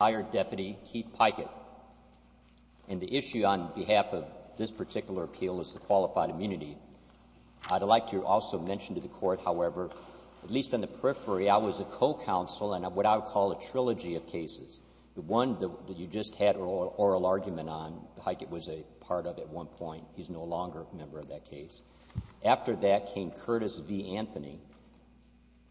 And the issue on behalf of this particular appeal is the qualified immunity. I'd like to also mention to the Court, however, at least on the periphery, I was a co-counsel in what I would call a trilogy of cases. The one that you just had an oral argument on, Pikett was a part of at one point. He's no longer a member of that case. After that came Curtis v. Anthony,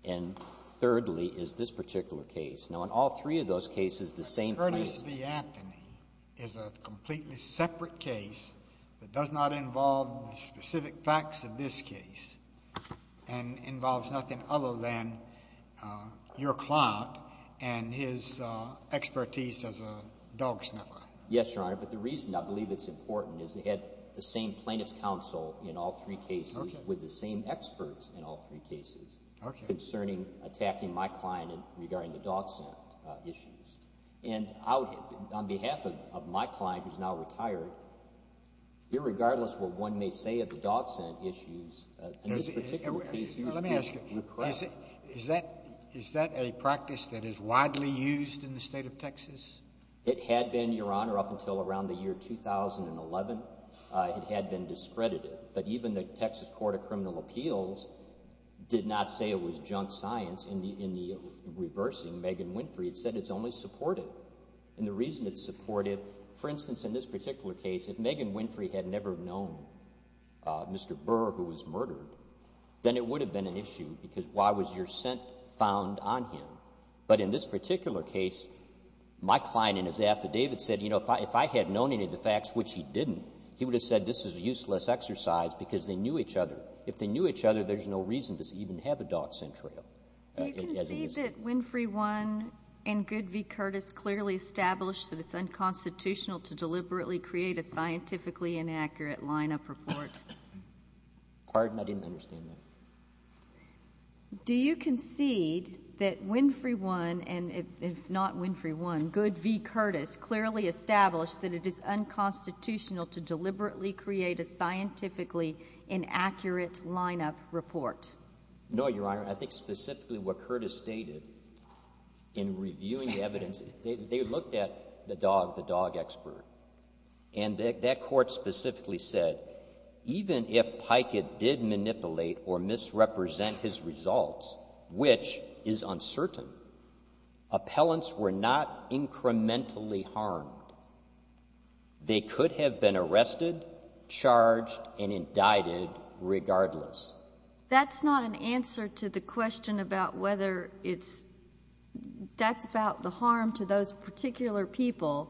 and thirdly is this particular case. Now, in all three of those cases, the same plaintiff… JUSTICE KENNEDY Curtis v. Anthony is a completely separate case that does not involve the specific facts of this case and involves nothing other than your client and his expertise as a dog sniffer. Yes, Your Honor, but the reason I believe it's important is they had the same plaintiff's counsel in all three cases with the same experts in all three cases… Okay. …concerning attacking my client regarding the dog scent issues. And on behalf of my client, who's now retired, irregardless of what one may say of the dog scent issues, in this particular case… Let me ask you. Is that a practice that is widely used in the State of Texas? It had been, Your Honor, up until around the year 2011. It had been discredited, but even the Texas Court of Criminal Appeals did not say it was junk science. In the reversing, Megan Winfrey had said it's only supportive. And the reason it's supportive, for instance, in this particular case, if Megan Winfrey had never known Mr. Burr, who was murdered, then it would have been an issue because why was your scent found on him? But in this particular case, my client in his affidavit said, you know, if I had known any of the facts, which he didn't, he would have said this is a useless exercise because they knew each other. If they knew each other, there's no reason to even have a dog scent trail. Do you concede that Winfrey 1 and Good v. Curtis clearly established that it's unconstitutional to deliberately create a scientifically inaccurate lineup report? Pardon? I didn't understand that. Do you concede that Winfrey 1 and, if not Winfrey 1, Good v. Curtis clearly established that it is unconstitutional to deliberately create a scientifically inaccurate lineup report? No, Your Honor. I think specifically what Curtis stated in reviewing the evidence, they looked at the dog, the dog expert, and that court specifically said even if Pikett did manipulate or misrepresent his results, which is uncertain, appellants were not incrementally harmed. They could have been arrested, charged, and indicted regardless. That's not an answer to the question about whether it's — that's about the harm to those particular people,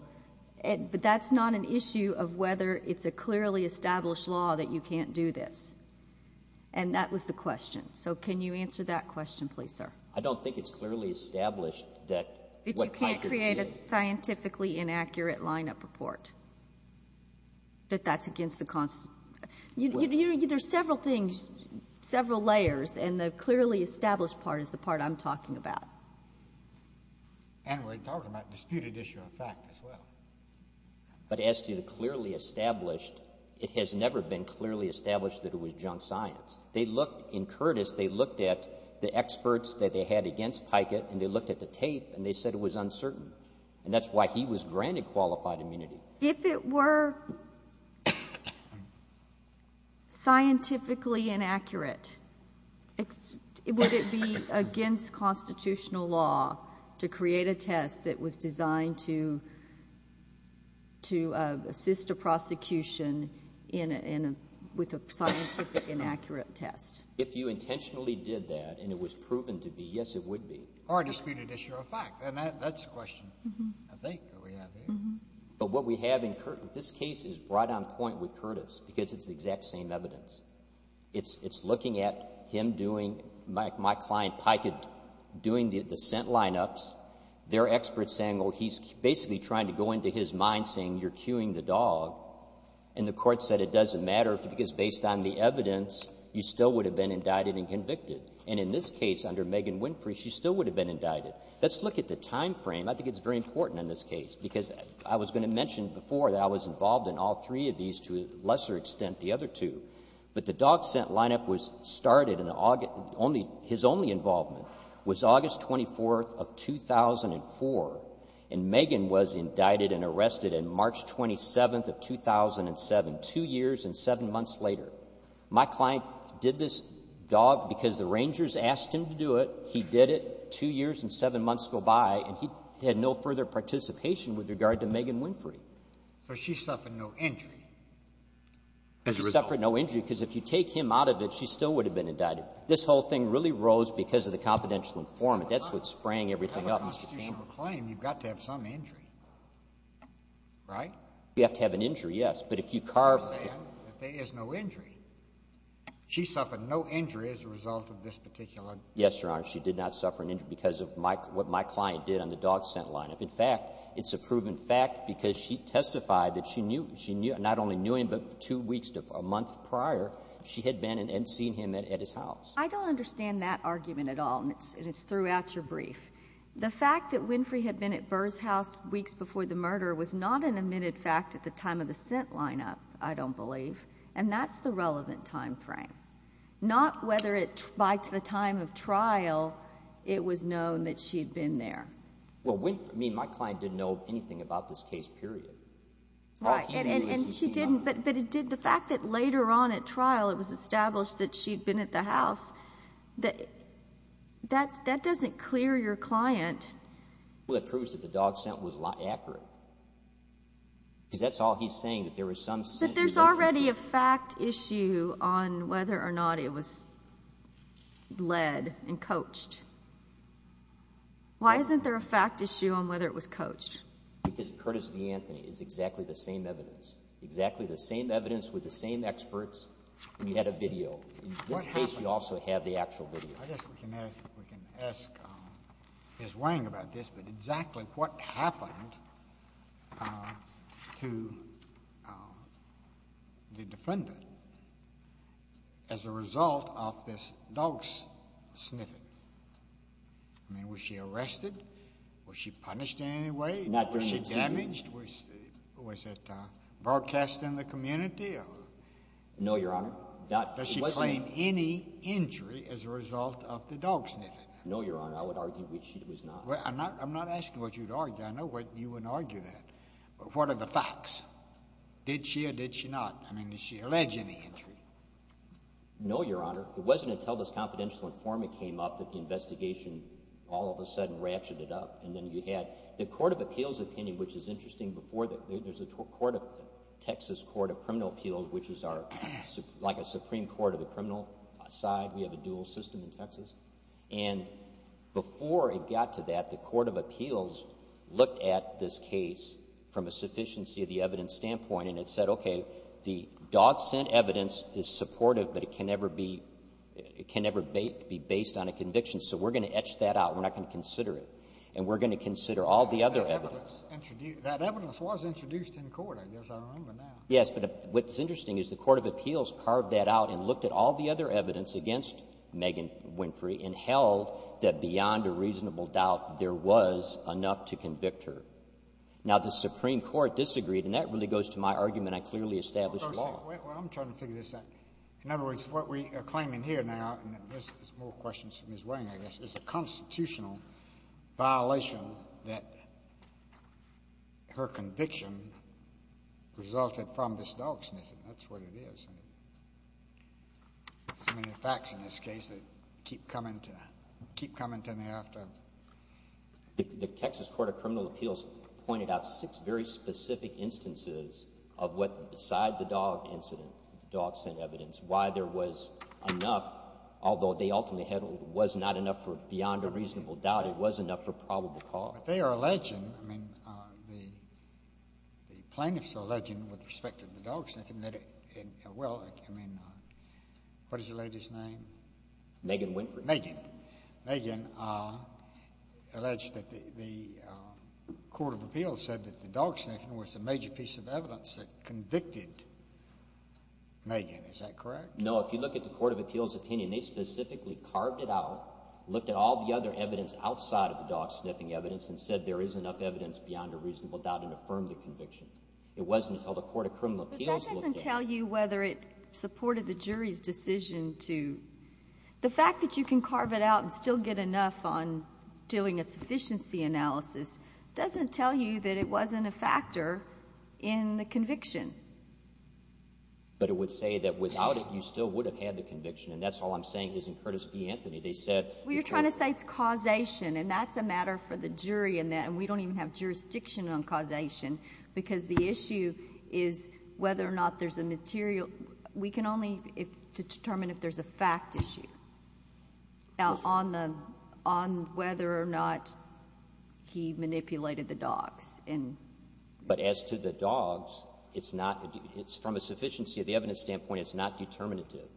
but that's not an issue of whether it's a clearly established law that you can't do this. And that was the question. So can you answer that question, please, sir? I don't think it's clearly established that what Pikett did — That you can't create a scientifically inaccurate lineup report, that that's against the — There's several things, several layers, and the clearly established part is the part I'm talking about. And we're talking about disputed issue of fact as well. But as to the clearly established, it has never been clearly established that it was junk science. They looked — in Curtis, they looked at the experts that they had against Pikett, and they looked at the tape, and they said it was uncertain. And that's why he was granted qualified immunity. If it were scientifically inaccurate, would it be against constitutional law to create a test that was designed to assist a prosecution in a — with a scientific inaccurate test? If you intentionally did that and it was proven to be, yes, it would be. Or a disputed issue of fact. And that's the question, I think, that we have here. But what we have in Curtis — this case is right on point with Curtis because it's the exact same evidence. It's looking at him doing — my client, Pikett, doing the scent lineups. They're experts saying, well, he's basically trying to go into his mind saying you're cueing the dog. And the Court said it doesn't matter because based on the evidence, you still would have been indicted and convicted. And in this case, under Megan Winfrey, she still would have been indicted. Let's look at the timeframe. I think it's very important in this case because I was going to mention before that I was involved in all three of these to a lesser extent the other two. But the dog scent lineup was started in August — his only involvement was August 24th of 2004. And Megan was indicted and arrested on March 27th of 2007, two years and seven months later. My client did this dog because the Rangers asked him to do it. He did it. Two years and seven months go by, and he had no further participation with regard to Megan Winfrey. So she suffered no injury as a result. She suffered no injury because if you take him out of it, she still would have been indicted. This whole thing really rose because of the confidential informant. That's what sprang everything up, Mr. Campbell. You have a constitutional claim. You've got to have some injury, right? You have to have an injury, yes. But if you carve — You're saying that there is no injury. She suffered no injury as a result of this particular — Yes, Your Honor. She did not suffer an injury because of what my client did on the dog scent lineup. In fact, it's a proven fact because she testified that she knew — she not only knew him, but two weeks to a month prior, she had been and seen him at his house. I don't understand that argument at all, and it's throughout your brief. The fact that Winfrey had been at Burr's house weeks before the murder was not an admitted fact at the time of the scent lineup, I don't believe. And that's the relevant timeframe. Not whether by the time of trial it was known that she had been there. Well, Winfrey — I mean, my client didn't know anything about this case, period. Right, and she didn't. But the fact that later on at trial it was established that she had been at the house, that doesn't clear your client. Well, it proves that the dog scent was accurate because that's all he's saying, that there was some scent — But there's already a fact issue on whether or not it was led and coached. Why isn't there a fact issue on whether it was coached? Because Curtis v. Anthony is exactly the same evidence, exactly the same evidence with the same experts, and you had a video. In this case, you also had the actual video. I guess we can ask Ms. Wang about this, but exactly what happened to the defendant as a result of this dog sniffing? I mean, was she arrested? Was she punished in any way? Was she damaged? Was it broadcast in the community? No, Your Honor. Does she claim any injury as a result of the dog sniffing? No, Your Honor. I would argue she was not. I'm not asking what you would argue. I know you wouldn't argue that. But what are the facts? Did she or did she not? I mean, did she allege any injury? No, Your Honor. It wasn't until this confidential informant came up that the investigation all of a sudden ratcheted up, and then you had the court of appeals opinion, which is interesting. There's a Texas court of criminal appeals, which is like a Supreme Court of the criminal side. We have a dual system in Texas. And before it got to that, the court of appeals looked at this case from a sufficiency of the evidence standpoint, and it said, okay, the dog scent evidence is supportive, but it can never be based on a conviction, so we're going to etch that out. We're not going to consider it. And we're going to consider all the other evidence. That evidence was introduced in court, I guess. I don't remember now. Yes, but what's interesting is the court of appeals carved that out and looked at all the other evidence against Megan Winfrey and held that beyond a reasonable doubt there was enough to convict her. Now, the Supreme Court disagreed, and that really goes to my argument I clearly established law. Well, I'm trying to figure this out. In other words, what we are claiming here now, and there's more questions from violation that her conviction resulted from this dog sniffing. That's what it is. So many facts in this case that keep coming to me after. The Texas Court of Criminal Appeals pointed out six very specific instances of what, beside the dog incident, the dog scent evidence, why there was enough, although they ultimately held it was not enough for beyond a reasonable doubt, it was enough for probable cause. But they are alleging, I mean, the plaintiffs are alleging with respect to the dog sniffing that, well, I mean, what is the lady's name? Megan Winfrey. Megan. Megan alleged that the court of appeals said that the dog sniffing was the major piece of evidence that convicted Megan. Is that correct? No. If you look at the court of appeals opinion, they specifically carved it out, looked at all the other evidence outside of the dog sniffing evidence and said there is enough evidence beyond a reasonable doubt and affirmed the conviction. It wasn't until the court of criminal appeals looked at it. But that doesn't tell you whether it supported the jury's decision to, the fact that you can carve it out and still get enough on doing a sufficiency analysis doesn't tell you that it wasn't a factor in the conviction. But it would say that without it, you still would have had the conviction. And that's all I'm saying is in Curtis v. Anthony. They said you could. Well, you're trying to say it's causation. And that's a matter for the jury in that. And we don't even have jurisdiction on causation because the issue is whether or not there's a material. We can only determine if there's a fact issue on the, on whether or not he manipulated the dogs. But as to the dogs, it's not, it's from a sufficiency of the evidence standpoint, it's not determinative.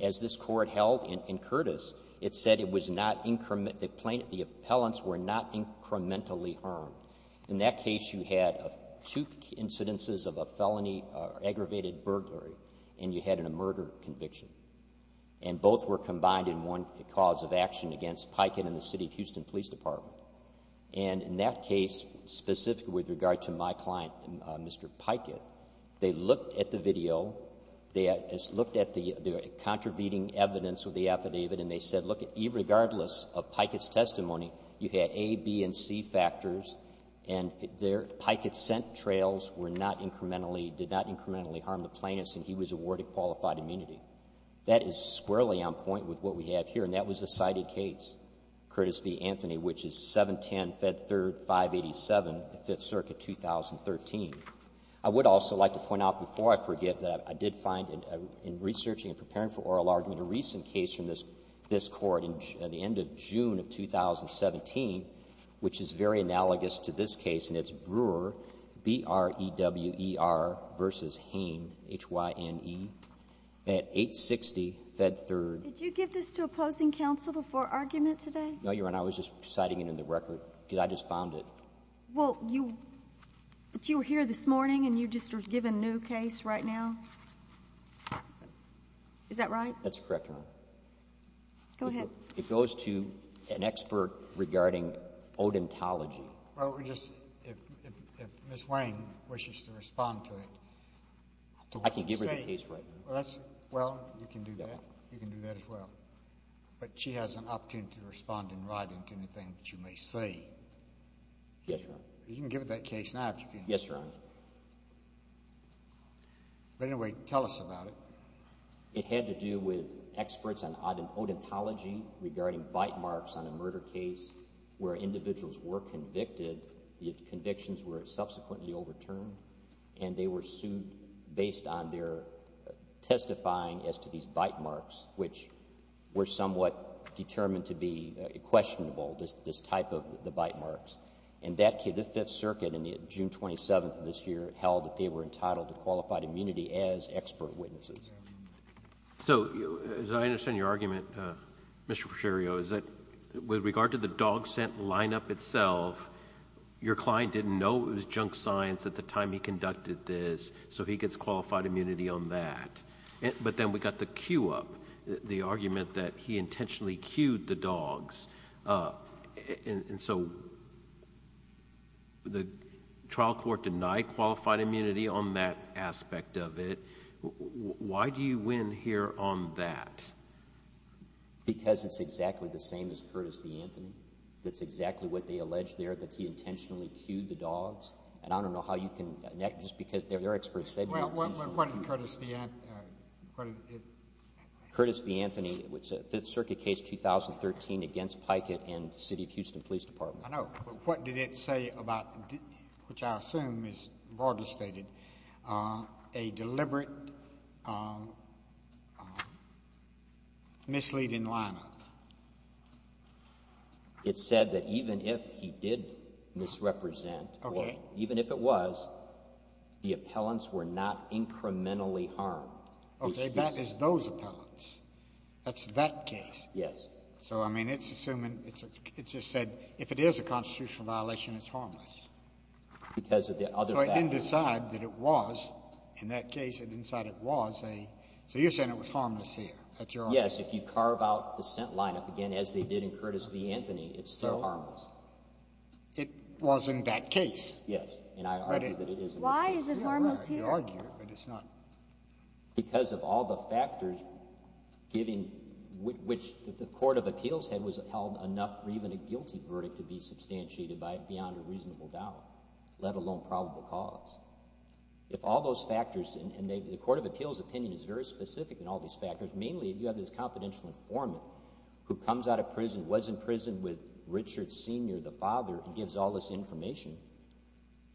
As this court held in Curtis, it said it was not, the plaintiff, the appellants were not incrementally harmed. In that case, you had two incidences of a felony, aggravated burglary, and you had a murder conviction. And both were combined in one cause of action against Pikett and the city of Houston Police Department. And in that case, specific with regard to my client, Mr. Pikett, they looked at the video, they looked at the contravening evidence with the affidavit, and they said, look, regardless of Pikett's testimony, you had A, B, and C factors. And Pikett's scent trails were not incrementally, did not incrementally harm the plaintiff, and he was awarded qualified immunity. That is squarely on point with what we have here. And that was a cited case, Curtis v. Anthony, which is 710 Fed Third 587, Fifth Circuit, 2013. I would also like to point out before I forget that I did find in researching and preparing for oral argument a recent case from this court at the end of June of 2017, which is very analogous to this case, and it's Brewer, B-R-E-W-E-R v. Hain, H-Y-N-E, at 860 Fed Third. Did you give this to opposing counsel before argument today? No, Your Honor. I was just citing it in the record, because I just found it. Well, you were here this morning, and you just were given a new case right now? Is that right? That's correct, Your Honor. Go ahead. It goes to an expert regarding odontology. Well, we're just, if Ms. Hain wishes to respond to it. I can give her the case right now. Well, you can do that. You can do that as well. But she has an opportunity to respond in writing to anything that you may say. Yes, Your Honor. You can give her that case now if you can. Yes, Your Honor. But anyway, tell us about it. It had to do with experts on odontology regarding bite marks on a murder case where individuals were convicted, the convictions were subsequently overturned, and they were sued based on their testifying as to these bite marks, which were somewhat determined to be questionable, this type of the bite marks. And that case, the Fifth Circuit, on June 27th of this year, held that they were entitled to qualified immunity as expert witnesses. So, as I understand your argument, Mr. Fischerio, is that with regard to the dog scent lineup itself, your client didn't know it was junk science at the time he conducted this, so he gets qualified immunity on that. But then we got the cue up, the argument that he intentionally cued the dogs. And so the trial court denied qualified immunity on that aspect of it. Why do you win here on that? Because it's exactly the same as Curtis v. Anthony. That's exactly what they allege there, that he intentionally cued the dogs. And I don't know how you can, just because they're experts. Well, what did Curtis v. Anthony, what did it? Curtis v. Anthony, which is a Fifth Circuit case, 2013, against Pikett and the City of Houston Police Department. I know. But what did it say about, which I assume is broadly stated, a deliberate misleading lineup? It said that even if he did misrepresent or even if it was, the appellants were not incrementally harmed. Okay. That is those appellants. That's that case. Yes. So, I mean, it's assuming, it just said if it is a constitutional violation, it's harmless. Because of the other factors. So it didn't decide that it was. In that case, it didn't decide it was. So you're saying it was harmless here. That's your argument? Yes. If you carve out the scent lineup, again, as they did in Curtis v. Anthony, it's still harmless. It was in that case. Yes. And I argue that it is in this case. Why is it harmless here? You argue it, but it's not. Because of all the factors giving, which the Court of Appeals had held enough for even a guilty verdict to be If all those factors, and the Court of Appeals opinion is very specific in all these factors, mainly if you have this confidential informant who comes out of prison, was in prison with Richard Sr., the father, and gives all this information,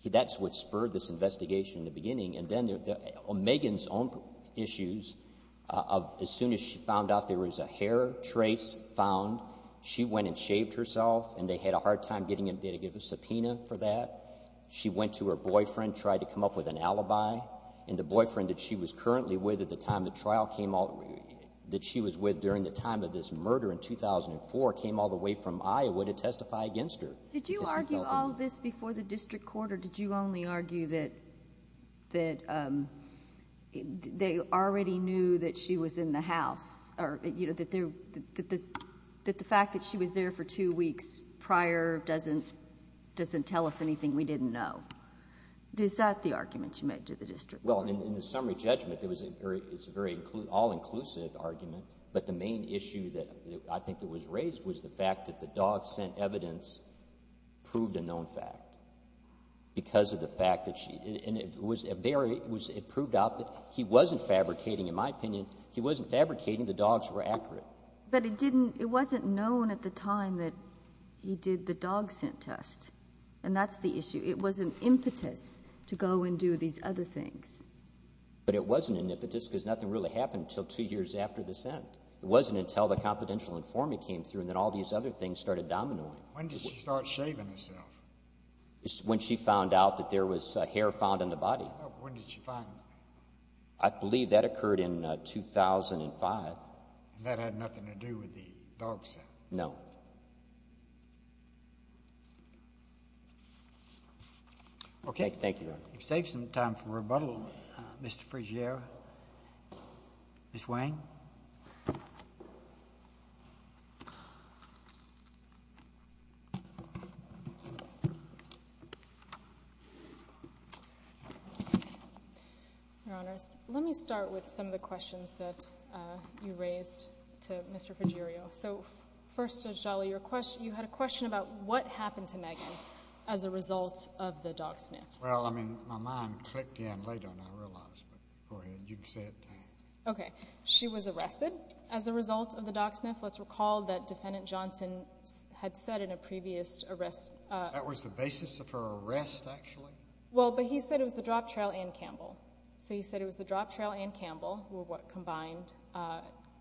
that's what spurred this investigation in the beginning. And then Megan's own issues, as soon as she found out there was a hair trace found, she went and shaved herself, and they had a hard time getting them to give a subpoena for that. She went to her boyfriend, tried to come up with an alibi, and the boyfriend that she was currently with at the time the trial came out, that she was with during the time of this murder in 2004, came all the way from Iowa to testify against her. Did you argue all of this before the district court, or did you only argue that they already knew that she was in the house, or that the fact that she was there for two weeks prior doesn't tell us anything we didn't know? Is that the argument you made to the district court? Well, in the summary judgment, it's a very all-inclusive argument, but the main issue that I think that was raised was the fact that the dog sent evidence proved a known fact because of the fact that she was there. It proved out that he wasn't fabricating, in my opinion. He wasn't fabricating. The dogs were accurate. But it wasn't known at the time that he did the dog scent test, and that's the issue. It was an impetus to go and do these other things. But it wasn't an impetus because nothing really happened until two years after the scent. It wasn't until the confidential informant came through and then all these other things started dominoing. When did she start shaving herself? When she found out that there was hair found in the body. When did she find that? I believe that occurred in 2005. And that had nothing to do with the dog scent? No. Thank you, Your Honor. We've saved some time for rebuttal. Mr. Frigere, Ms. Wang. Your Honor, let me start with some of the questions that you raised to Mr. Frigere. So first, Judge Daly, you had a question about what happened to Megan as a result of the dog sniffs. Well, I mean, my mind clicked in later than I realized. But go ahead. You can say it. She was found dead. She was found dead. She was found dead. She was arrested as a result of the dog sniff. Let's recall that Defendant Johnson had said in a previous arrest... That was the basis of her arrest, actually? Well, but he said it was the drop trial and Campbell. So he said it was the drop trial and Campbell combined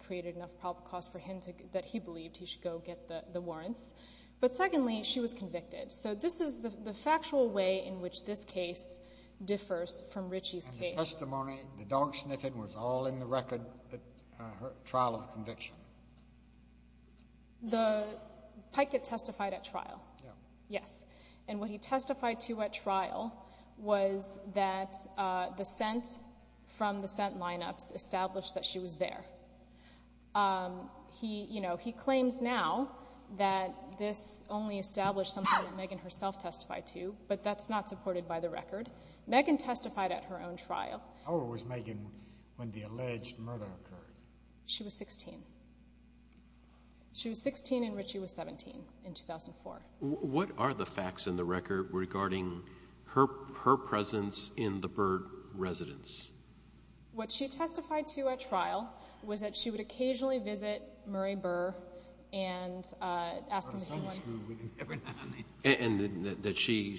created enough probable cause for him that he believed he should go get the warrants. But secondly, she was convicted. So this is the factual way in which this case differs from Ritchie's case. The testimony, the dog sniffing was all in the record at her trial of conviction. Pike had testified at trial, yes. And what he testified to at trial was that the scent from the scent lineups established that she was there. He claims now that this only established something that Megan herself testified to, but that's not supported by the record. Megan testified at her own trial. How old was Megan when the alleged murder occurred? She was 16. She was 16 and Ritchie was 17 in 2004. What are the facts in the record regarding her presence in the Burr residence? What she testified to at trial was that she would occasionally visit Murray Burr and ask him... And that she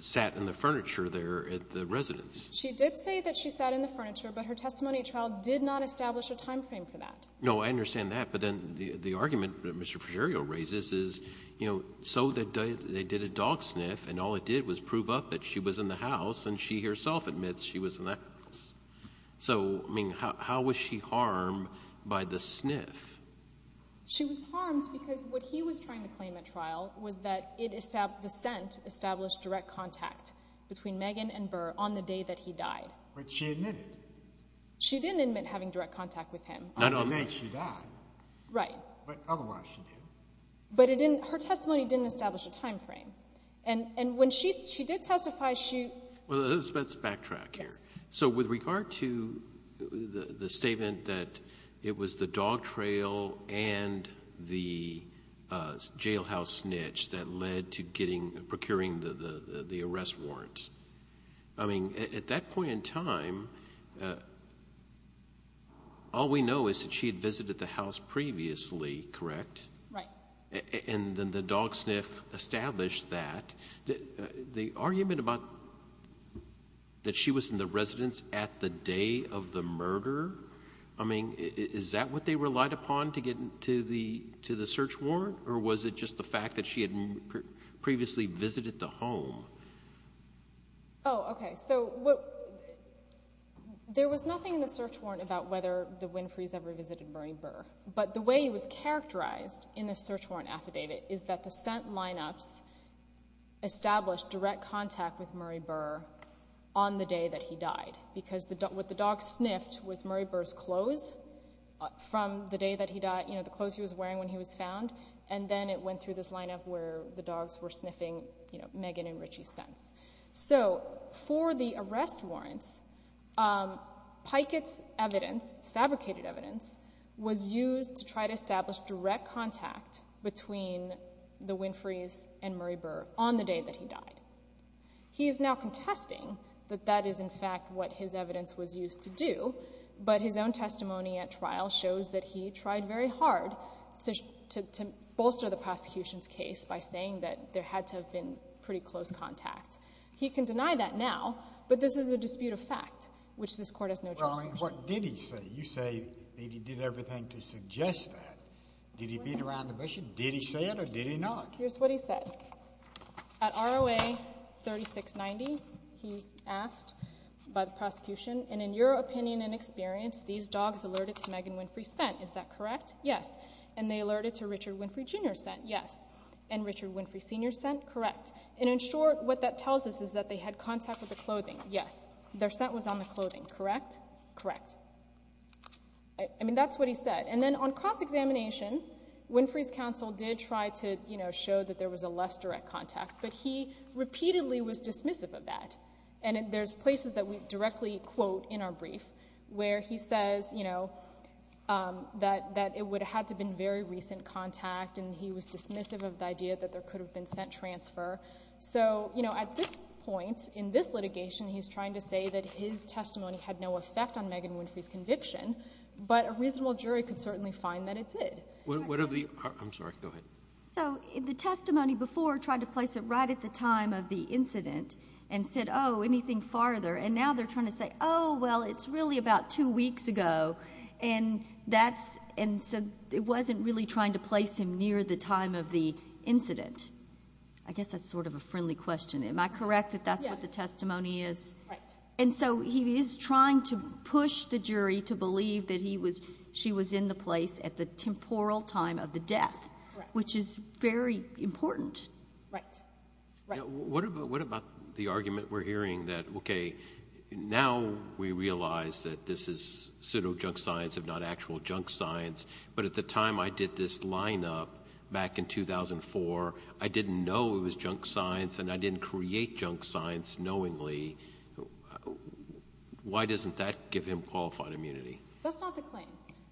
sat in the furniture there at the residence. She did say that she sat in the furniture, but her testimony at trial did not establish a time frame for that. No, I understand that. But then the argument that Mr. Fergerio raises is, you know, so they did a dog sniff and all it did was prove up that she was in the house, and she herself admits she was in the house. So, I mean, how was she harmed by the sniff? She was harmed because what he was trying to claim at trial was that the scent established direct contact between Megan and Burr on the day that he died. But she admitted. She didn't admit having direct contact with him. On the day she died. Right. But otherwise she did. But her testimony didn't establish a time frame. And when she did testify, she... Well, let's backtrack here. Yes. So with regard to the statement that it was the dog trail and the jailhouse snitch that led to getting, procuring the arrest warrant, I mean, at that point in time, all we know is that she had visited the house previously, correct? Right. And then the dog sniff established that. The argument about that she was in the residence at the day of the murder, I mean, is that what they relied upon to get to the search warrant? Or was it just the fact that she had previously visited the home? Oh, okay. So there was nothing in the search warrant about whether the Winfrey's ever visited Murray Burr. But the way he was characterized in the search warrant affidavit is that the scent lineups established direct contact with Murray Burr on the day that he died. Because what the dog sniffed was Murray Burr's clothes from the day that he died, you know, the clothes he was wearing when he was found. And then it went through this lineup where the dogs were sniffing Megan and Richie's scents. So for the arrest warrants, Pikett's evidence, fabricated evidence, was used to try to establish direct contact between the Winfrey's and Murray Burr on the day that he died. He is now contesting that that is, in fact, what his evidence was used to do, but his own testimony at trial shows that he tried very hard to bolster the prosecution's case by saying that there had to have been pretty close contact. He can deny that now, but this is a dispute of fact, which this Court has no justice to. Well, I mean, what did he say? You say that he did everything to suggest that. Did he beat around the bush? Did he say it or did he not? Here's what he said. At ROA 3690, he's asked by the prosecution, and in your opinion and experience, these dogs alerted to Megan Winfrey's scent. Is that correct? Yes. And they alerted to Richard Winfrey, Jr.'s scent? Yes. And Richard Winfrey, Sr.'s scent? Correct. And in short, what that tells us is that they had contact with the clothing. Yes. Their scent was on the clothing, correct? Correct. I mean, that's what he said. And then on cross-examination, Winfrey's counsel did try to, you know, show that there was a less direct contact, but he repeatedly was dismissive of that. And there's places that we directly quote in our brief where he says, you know, that it would have had to have been very recent contact, and he was dismissive of the idea that there could have been scent transfer. So, you know, at this point in this litigation, he's trying to say that his testimony had no effect on Megan Winfrey's conviction, but a reasonable jury could certainly find that it did. I'm sorry, go ahead. So the testimony before tried to place it right at the time of the incident and said, oh, anything farther. And now they're trying to say, oh, well, it's really about two weeks ago. And so it wasn't really trying to place him near the time of the incident. I guess that's sort of a friendly question. Am I correct that that's what the testimony is? Right. And so he is trying to push the jury to believe that she was in the place at the temporal time of the death, which is very important. Right. What about the argument we're hearing that, okay, now we realize that this is pseudo-junk science if not actual junk science, but at the time I did this lineup back in 2004, I didn't know it was junk science and I didn't create junk science knowingly. Why doesn't that give him qualified immunity? That's not the claim.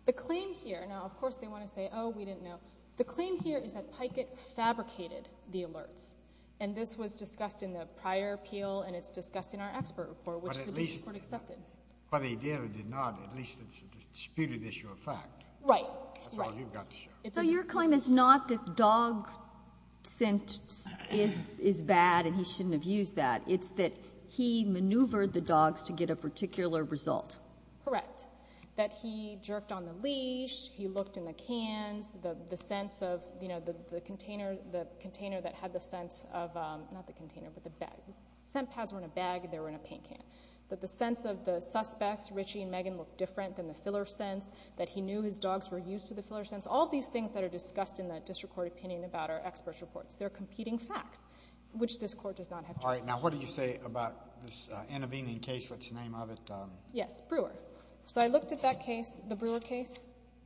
The claim here now, of course, they want to say, oh, we didn't know. The claim here is that Pikett fabricated the alerts. And this was discussed in the prior appeal and it's discussed in our expert report, which the district court accepted. By the idea it did not, at least it's a disputed issue of fact. Right. Right. That's all you've got to show. So your claim is not that dog scent is bad and he shouldn't have used that. It's that he maneuvered the dogs to get a particular result. Correct. That he jerked on the leash, he looked in the cans, the scents of, you know, the container that had the scents of, not the container, but the bag. The scent pads were in a bag and they were in a paint can. That the scents of the suspects, Richie and Megan, looked different than the filler scents, that he knew his dogs were used to the filler scents. All of these things that are discussed in the district court opinion about our expert reports. They're competing facts, which this court does not have jurisdiction over. All right. Now, what do you say about this intervening case, what's the name of it? Yes. Brewer. So I looked at that case, the Brewer case.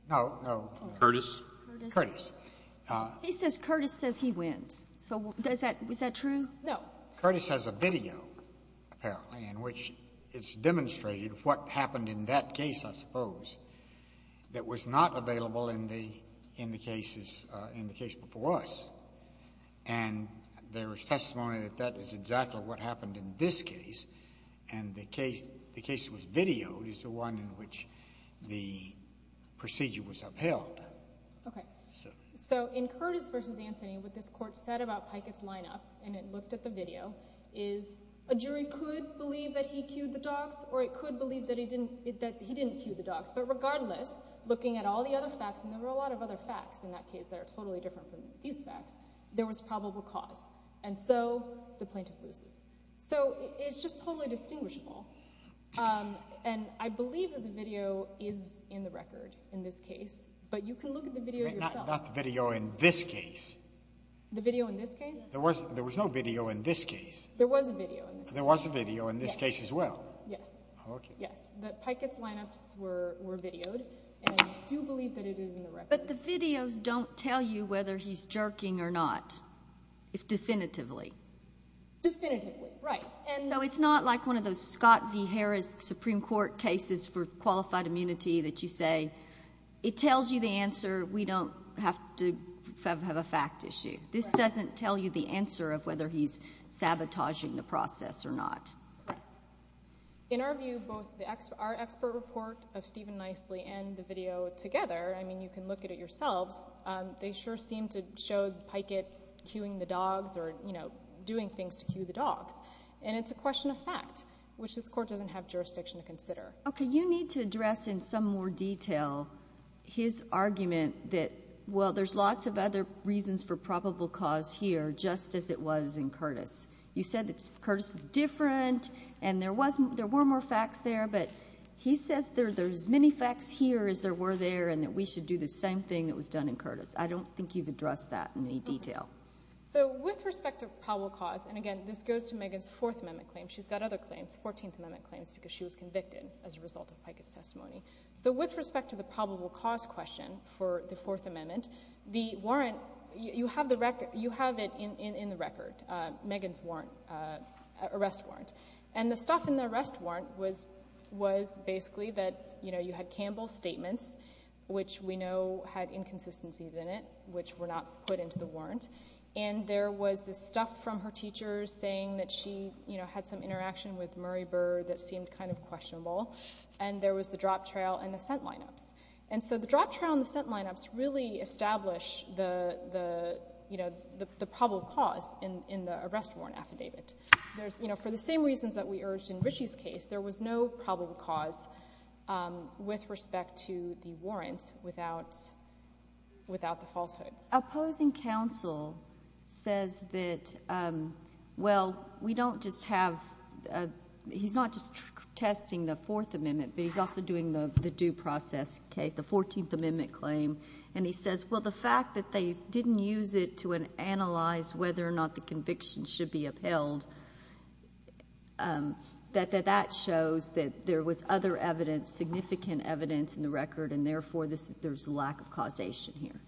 No, no. Curtis. Curtis. He says Curtis says he wins. So does that, is that true? No. Curtis has a video, apparently, in which it's demonstrated what happened in that case, I suppose, that was not available in the cases, in the case before us. And there was testimony that that is exactly what happened in this case. And the case was videoed is the one in which the procedure was upheld. Okay. So in Curtis v. Anthony, what this Court said about Pikett's lineup, and it looked at the video, is a jury could believe that he cued the dogs or it could believe that he didn't cue the dogs. But regardless, looking at all the other facts, and there were a lot of other facts in that case that are totally different from these facts, there was probable cause. And so the plaintiff loses. So it's just totally distinguishable. And I believe that the video is in the record in this case. But you can look at the video yourself. Not the video in this case. The video in this case? There was no video in this case. There was a video in this case. There was a video in this case as well. Yes. Okay. Yes. That Pikett's lineups were videoed. And I do believe that it is in the record. But the videos don't tell you whether he's jerking or not, definitively. Definitively, right. So it's not like one of those Scott v. Harris Supreme Court cases for qualified immunity that you say, it tells you the answer, we don't have to have a fact issue. This doesn't tell you the answer of whether he's sabotaging the process or not. Correct. In our view, both our expert report of Stephen Nicely and the video together, I mean, you can look at it yourselves. They sure seem to show Pikett cueing the dogs or, you know, doing things to cue the dogs. And it's a question of fact, which this Court doesn't have jurisdiction to consider. Okay. You need to address in some more detail his argument that, well, there's lots of other reasons for probable cause here, just as it was in Curtis. You said that Curtis is different and there were more facts there, but he says there's as many facts here as there were there and that we should do the same thing that was done in Curtis. I don't think you've addressed that in any detail. So with respect to probable cause, and, again, this goes to Megan's Fourth Amendment claim. She's got other claims, Fourteenth Amendment claims, because she was convicted as a result of Pikett's testimony. So with respect to the probable cause question for the Fourth Amendment, the warrant, you have it in the record, Megan's arrest warrant. And the stuff in the arrest warrant was basically that, you know, you had Campbell's statements, which we know had inconsistencies in it, which were not put into the warrant, and there was this stuff from her teachers saying that she, you know, had some interaction with Murray Bird that seemed kind of questionable, and there was the drop trail and the scent lineups. And so the drop trail and the scent lineups really establish the, you know, the probable cause in the arrest warrant affidavit. You know, for the same reasons that we urged in Ritchie's case, there was no probable cause with respect to the warrant without the falsehoods. Opposing counsel says that, well, we don't just have — he's not just protesting the Fourth Amendment, but he's also doing the due process case, the Fourteenth Amendment claim. And he says, well, the fact that they didn't use it to analyze whether or not the conviction should be upheld, that that shows that there was other evidence, significant evidence in the record, and therefore there's a lack of causation here.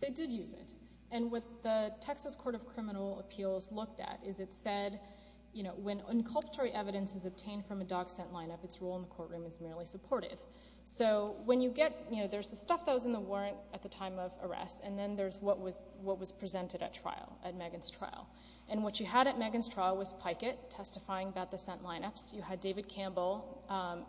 They did use it. And what the Texas Court of Criminal Appeals looked at is it said, you know, when inculpatory evidence is obtained from a dog scent lineup, its role in the courtroom is merely supportive. So when you get, you know, there's the stuff that was in the warrant at the time of arrest, and then there's what was presented at trial, at Megan's trial. And what you had at Megan's trial was Pikett testifying about the scent lineups. You had David Campbell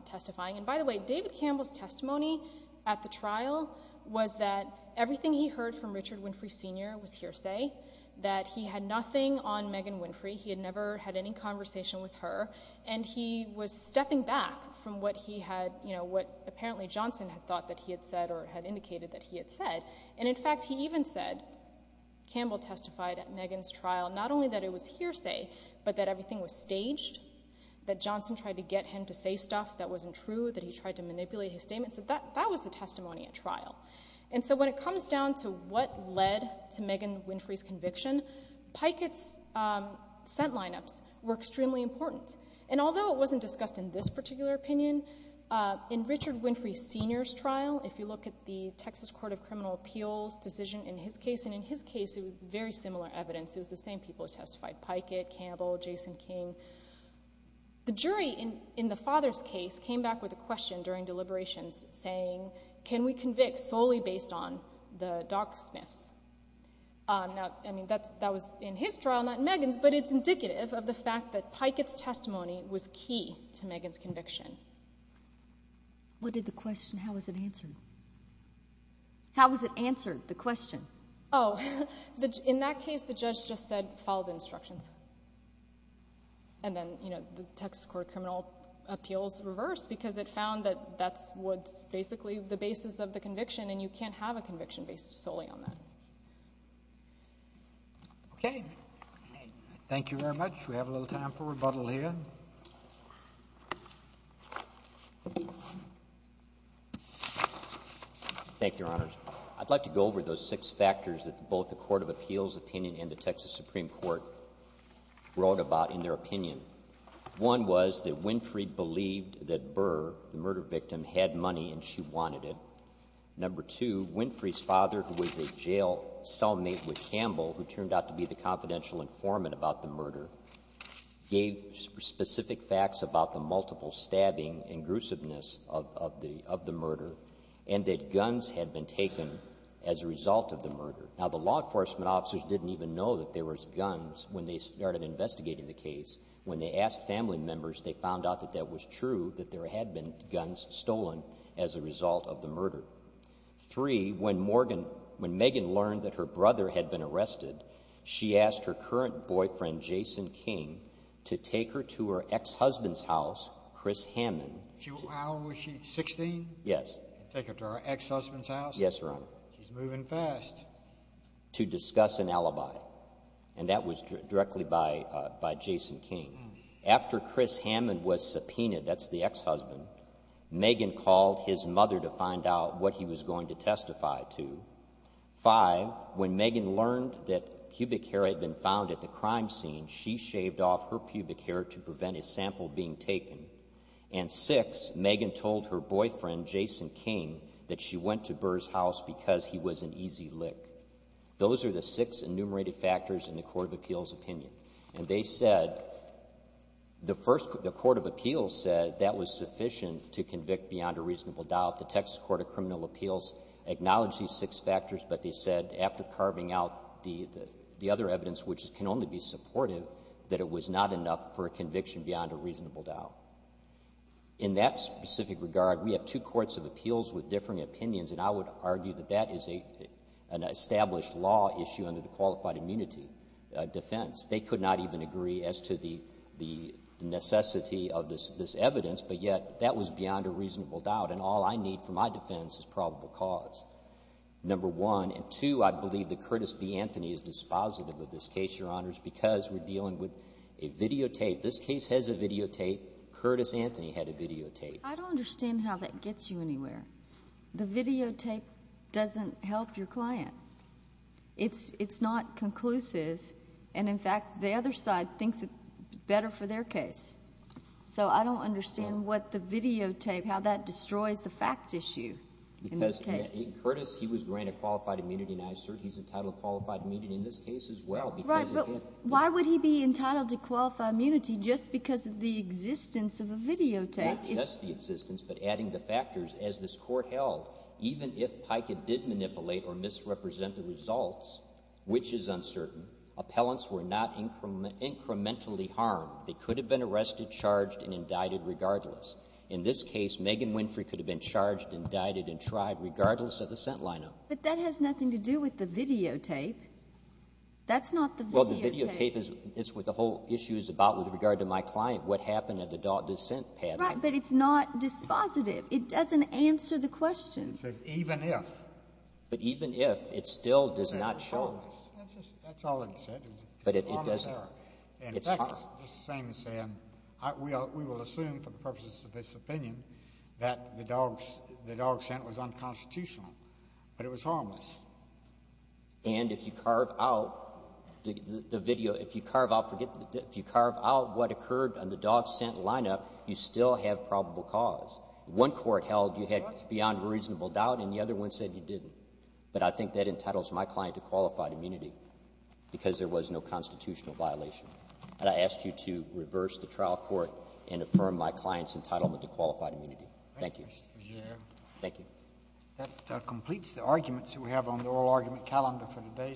testifying. And by the way, David Campbell's testimony at the trial was that everything he heard from Richard Winfrey Sr. was hearsay, that he had nothing on Megan Winfrey. He had never had any conversation with her. And he was stepping back from what he had, you know, what apparently Johnson had thought that he had said or had indicated that he had said. And, in fact, he even said, Campbell testified at Megan's trial, not only that it was hearsay, but that everything was staged, that Johnson tried to get him to say stuff that wasn't true, that he tried to manipulate his statement. So that was the testimony at trial. And so when it comes down to what led to Megan Winfrey's conviction, Pikett's scent lineups were extremely important. And although it wasn't discussed in this particular opinion, in Richard Winfrey Sr.'s trial, if you look at the Texas Court of Criminal Appeals decision in his case, and in his case it was very similar evidence, it was the same people who testified, Pikett, Campbell, Jason King, the jury in the father's case came back with a question during deliberations saying, can we convict solely based on the dog sniffs? Now, I mean, that was in his trial, not in Megan's, but it's indicative of the fact that Pikett's testimony was key to Megan's conviction. What did the question, how was it answered? How was it answered, the question? Oh, in that case, the judge just said, follow the instructions. And then, you know, the Texas Court of Criminal Appeals reversed, because it found that that's what basically the basis of the conviction, and you can't have a conviction based solely on that. Okay. Thank you very much. We have a little time for rebuttal here. Thank you, Your Honors. I'd like to go over those six factors that both the Court of Appeals opinion and the Texas Supreme Court wrote about in their opinion. One was that Winfrey believed that Burr, the murder victim, had money and she wanted it. Number two, Winfrey's father, who was a jail cellmate with Campbell, who turned out to be the confidential informant about the murder, gave specific facts about the multiple stabbing and gruesomeness of the murder and that guns had been taken as a result of the murder. Now, the law enforcement officers didn't even know that there was guns when they started investigating the case. When they asked family members, they found out that that was true, that there had been guns stolen as a result of the murder. Three, when Morgan, when Megan learned that her brother had been arrested, she asked her current boyfriend, Jason King, to take her to her ex-husband's house, Chris Hammond. How old was she, 16? Yes. Take her to her ex-husband's house? Yes, Your Honor. She's moving fast. To discuss an alibi, and that was directly by Jason King. After Chris Hammond was subpoenaed, that's the ex-husband, Megan called his mother to find out what he was going to testify to. Five, when Megan learned that pubic hair had been found at the crime scene, she shaved off her pubic hair to prevent a sample being taken. And six, Megan told her boyfriend, Jason King, that she went to Burr's house because he was an easy lick. Those are the six enumerated factors in the Court of Appeals' opinion. And they said, the first, the Court of Appeals said that was sufficient to convict beyond a reasonable doubt. The Texas Court of Criminal Appeals acknowledged these six factors, but they said after carving out the other evidence, which can only be supportive, that it was not enough for a conviction beyond a reasonable doubt. In that specific regard, we have two courts of appeals with differing opinions, and I would argue that that is an established law issue under the qualified immunity defense. They could not even agree as to the necessity of this evidence, but yet that was beyond a reasonable doubt. And all I need for my defense is probable cause, number one. And two, I believe that Curtis v. Anthony is dispositive of this case, Your Honors, because we're dealing with a videotape. This case has a videotape. Curtis Anthony had a videotape. I don't understand how that gets you anywhere. The videotape doesn't help your client. It's not conclusive, and in fact, the other side thinks it's better for their case. So I don't understand what the videotape, how that destroys the fact issue in this case. Because Curtis, he was granted qualified immunity, and I assert he's entitled to qualified immunity in this case as well because of him. Right, but why would he be entitled to qualified immunity just because of the existence of a videotape? Not just the existence, but adding the factors. As this Court held, even if Pikett did manipulate or misrepresent the results, which is uncertain, appellants were not incrementally harmed. They could have been arrested, charged, and indicted regardless. In this case, Megan Winfrey could have been charged, indicted, and tried regardless of the sent lineup. But that has nothing to do with the videotape. That's not the videotape. Well, the videotape is what the whole issue is about with regard to my client, what happened at the dissent panel. Right, but it's not dispositive. It doesn't answer the question. It says even if. But even if, it still does not show. It's harmless. That's all it said. But it doesn't. It's harmless. And in fact, it's the same as saying we will assume for the purposes of this opinion that the dog sent was unconstitutional, but it was harmless. And if you carve out the video, if you carve out, forget the video, if you carve out what occurred on the dog sent lineup, you still have probable cause. One Court held you had beyond a reasonable doubt, and the other one said you didn't. But I think that entitles my client to qualified immunity because there was no constitutional violation. And I ask you to reverse the trial court and affirm my client's entitlement to qualified immunity. Thank you. Thank you. That completes the arguments that we have on the oral argument calendar for today.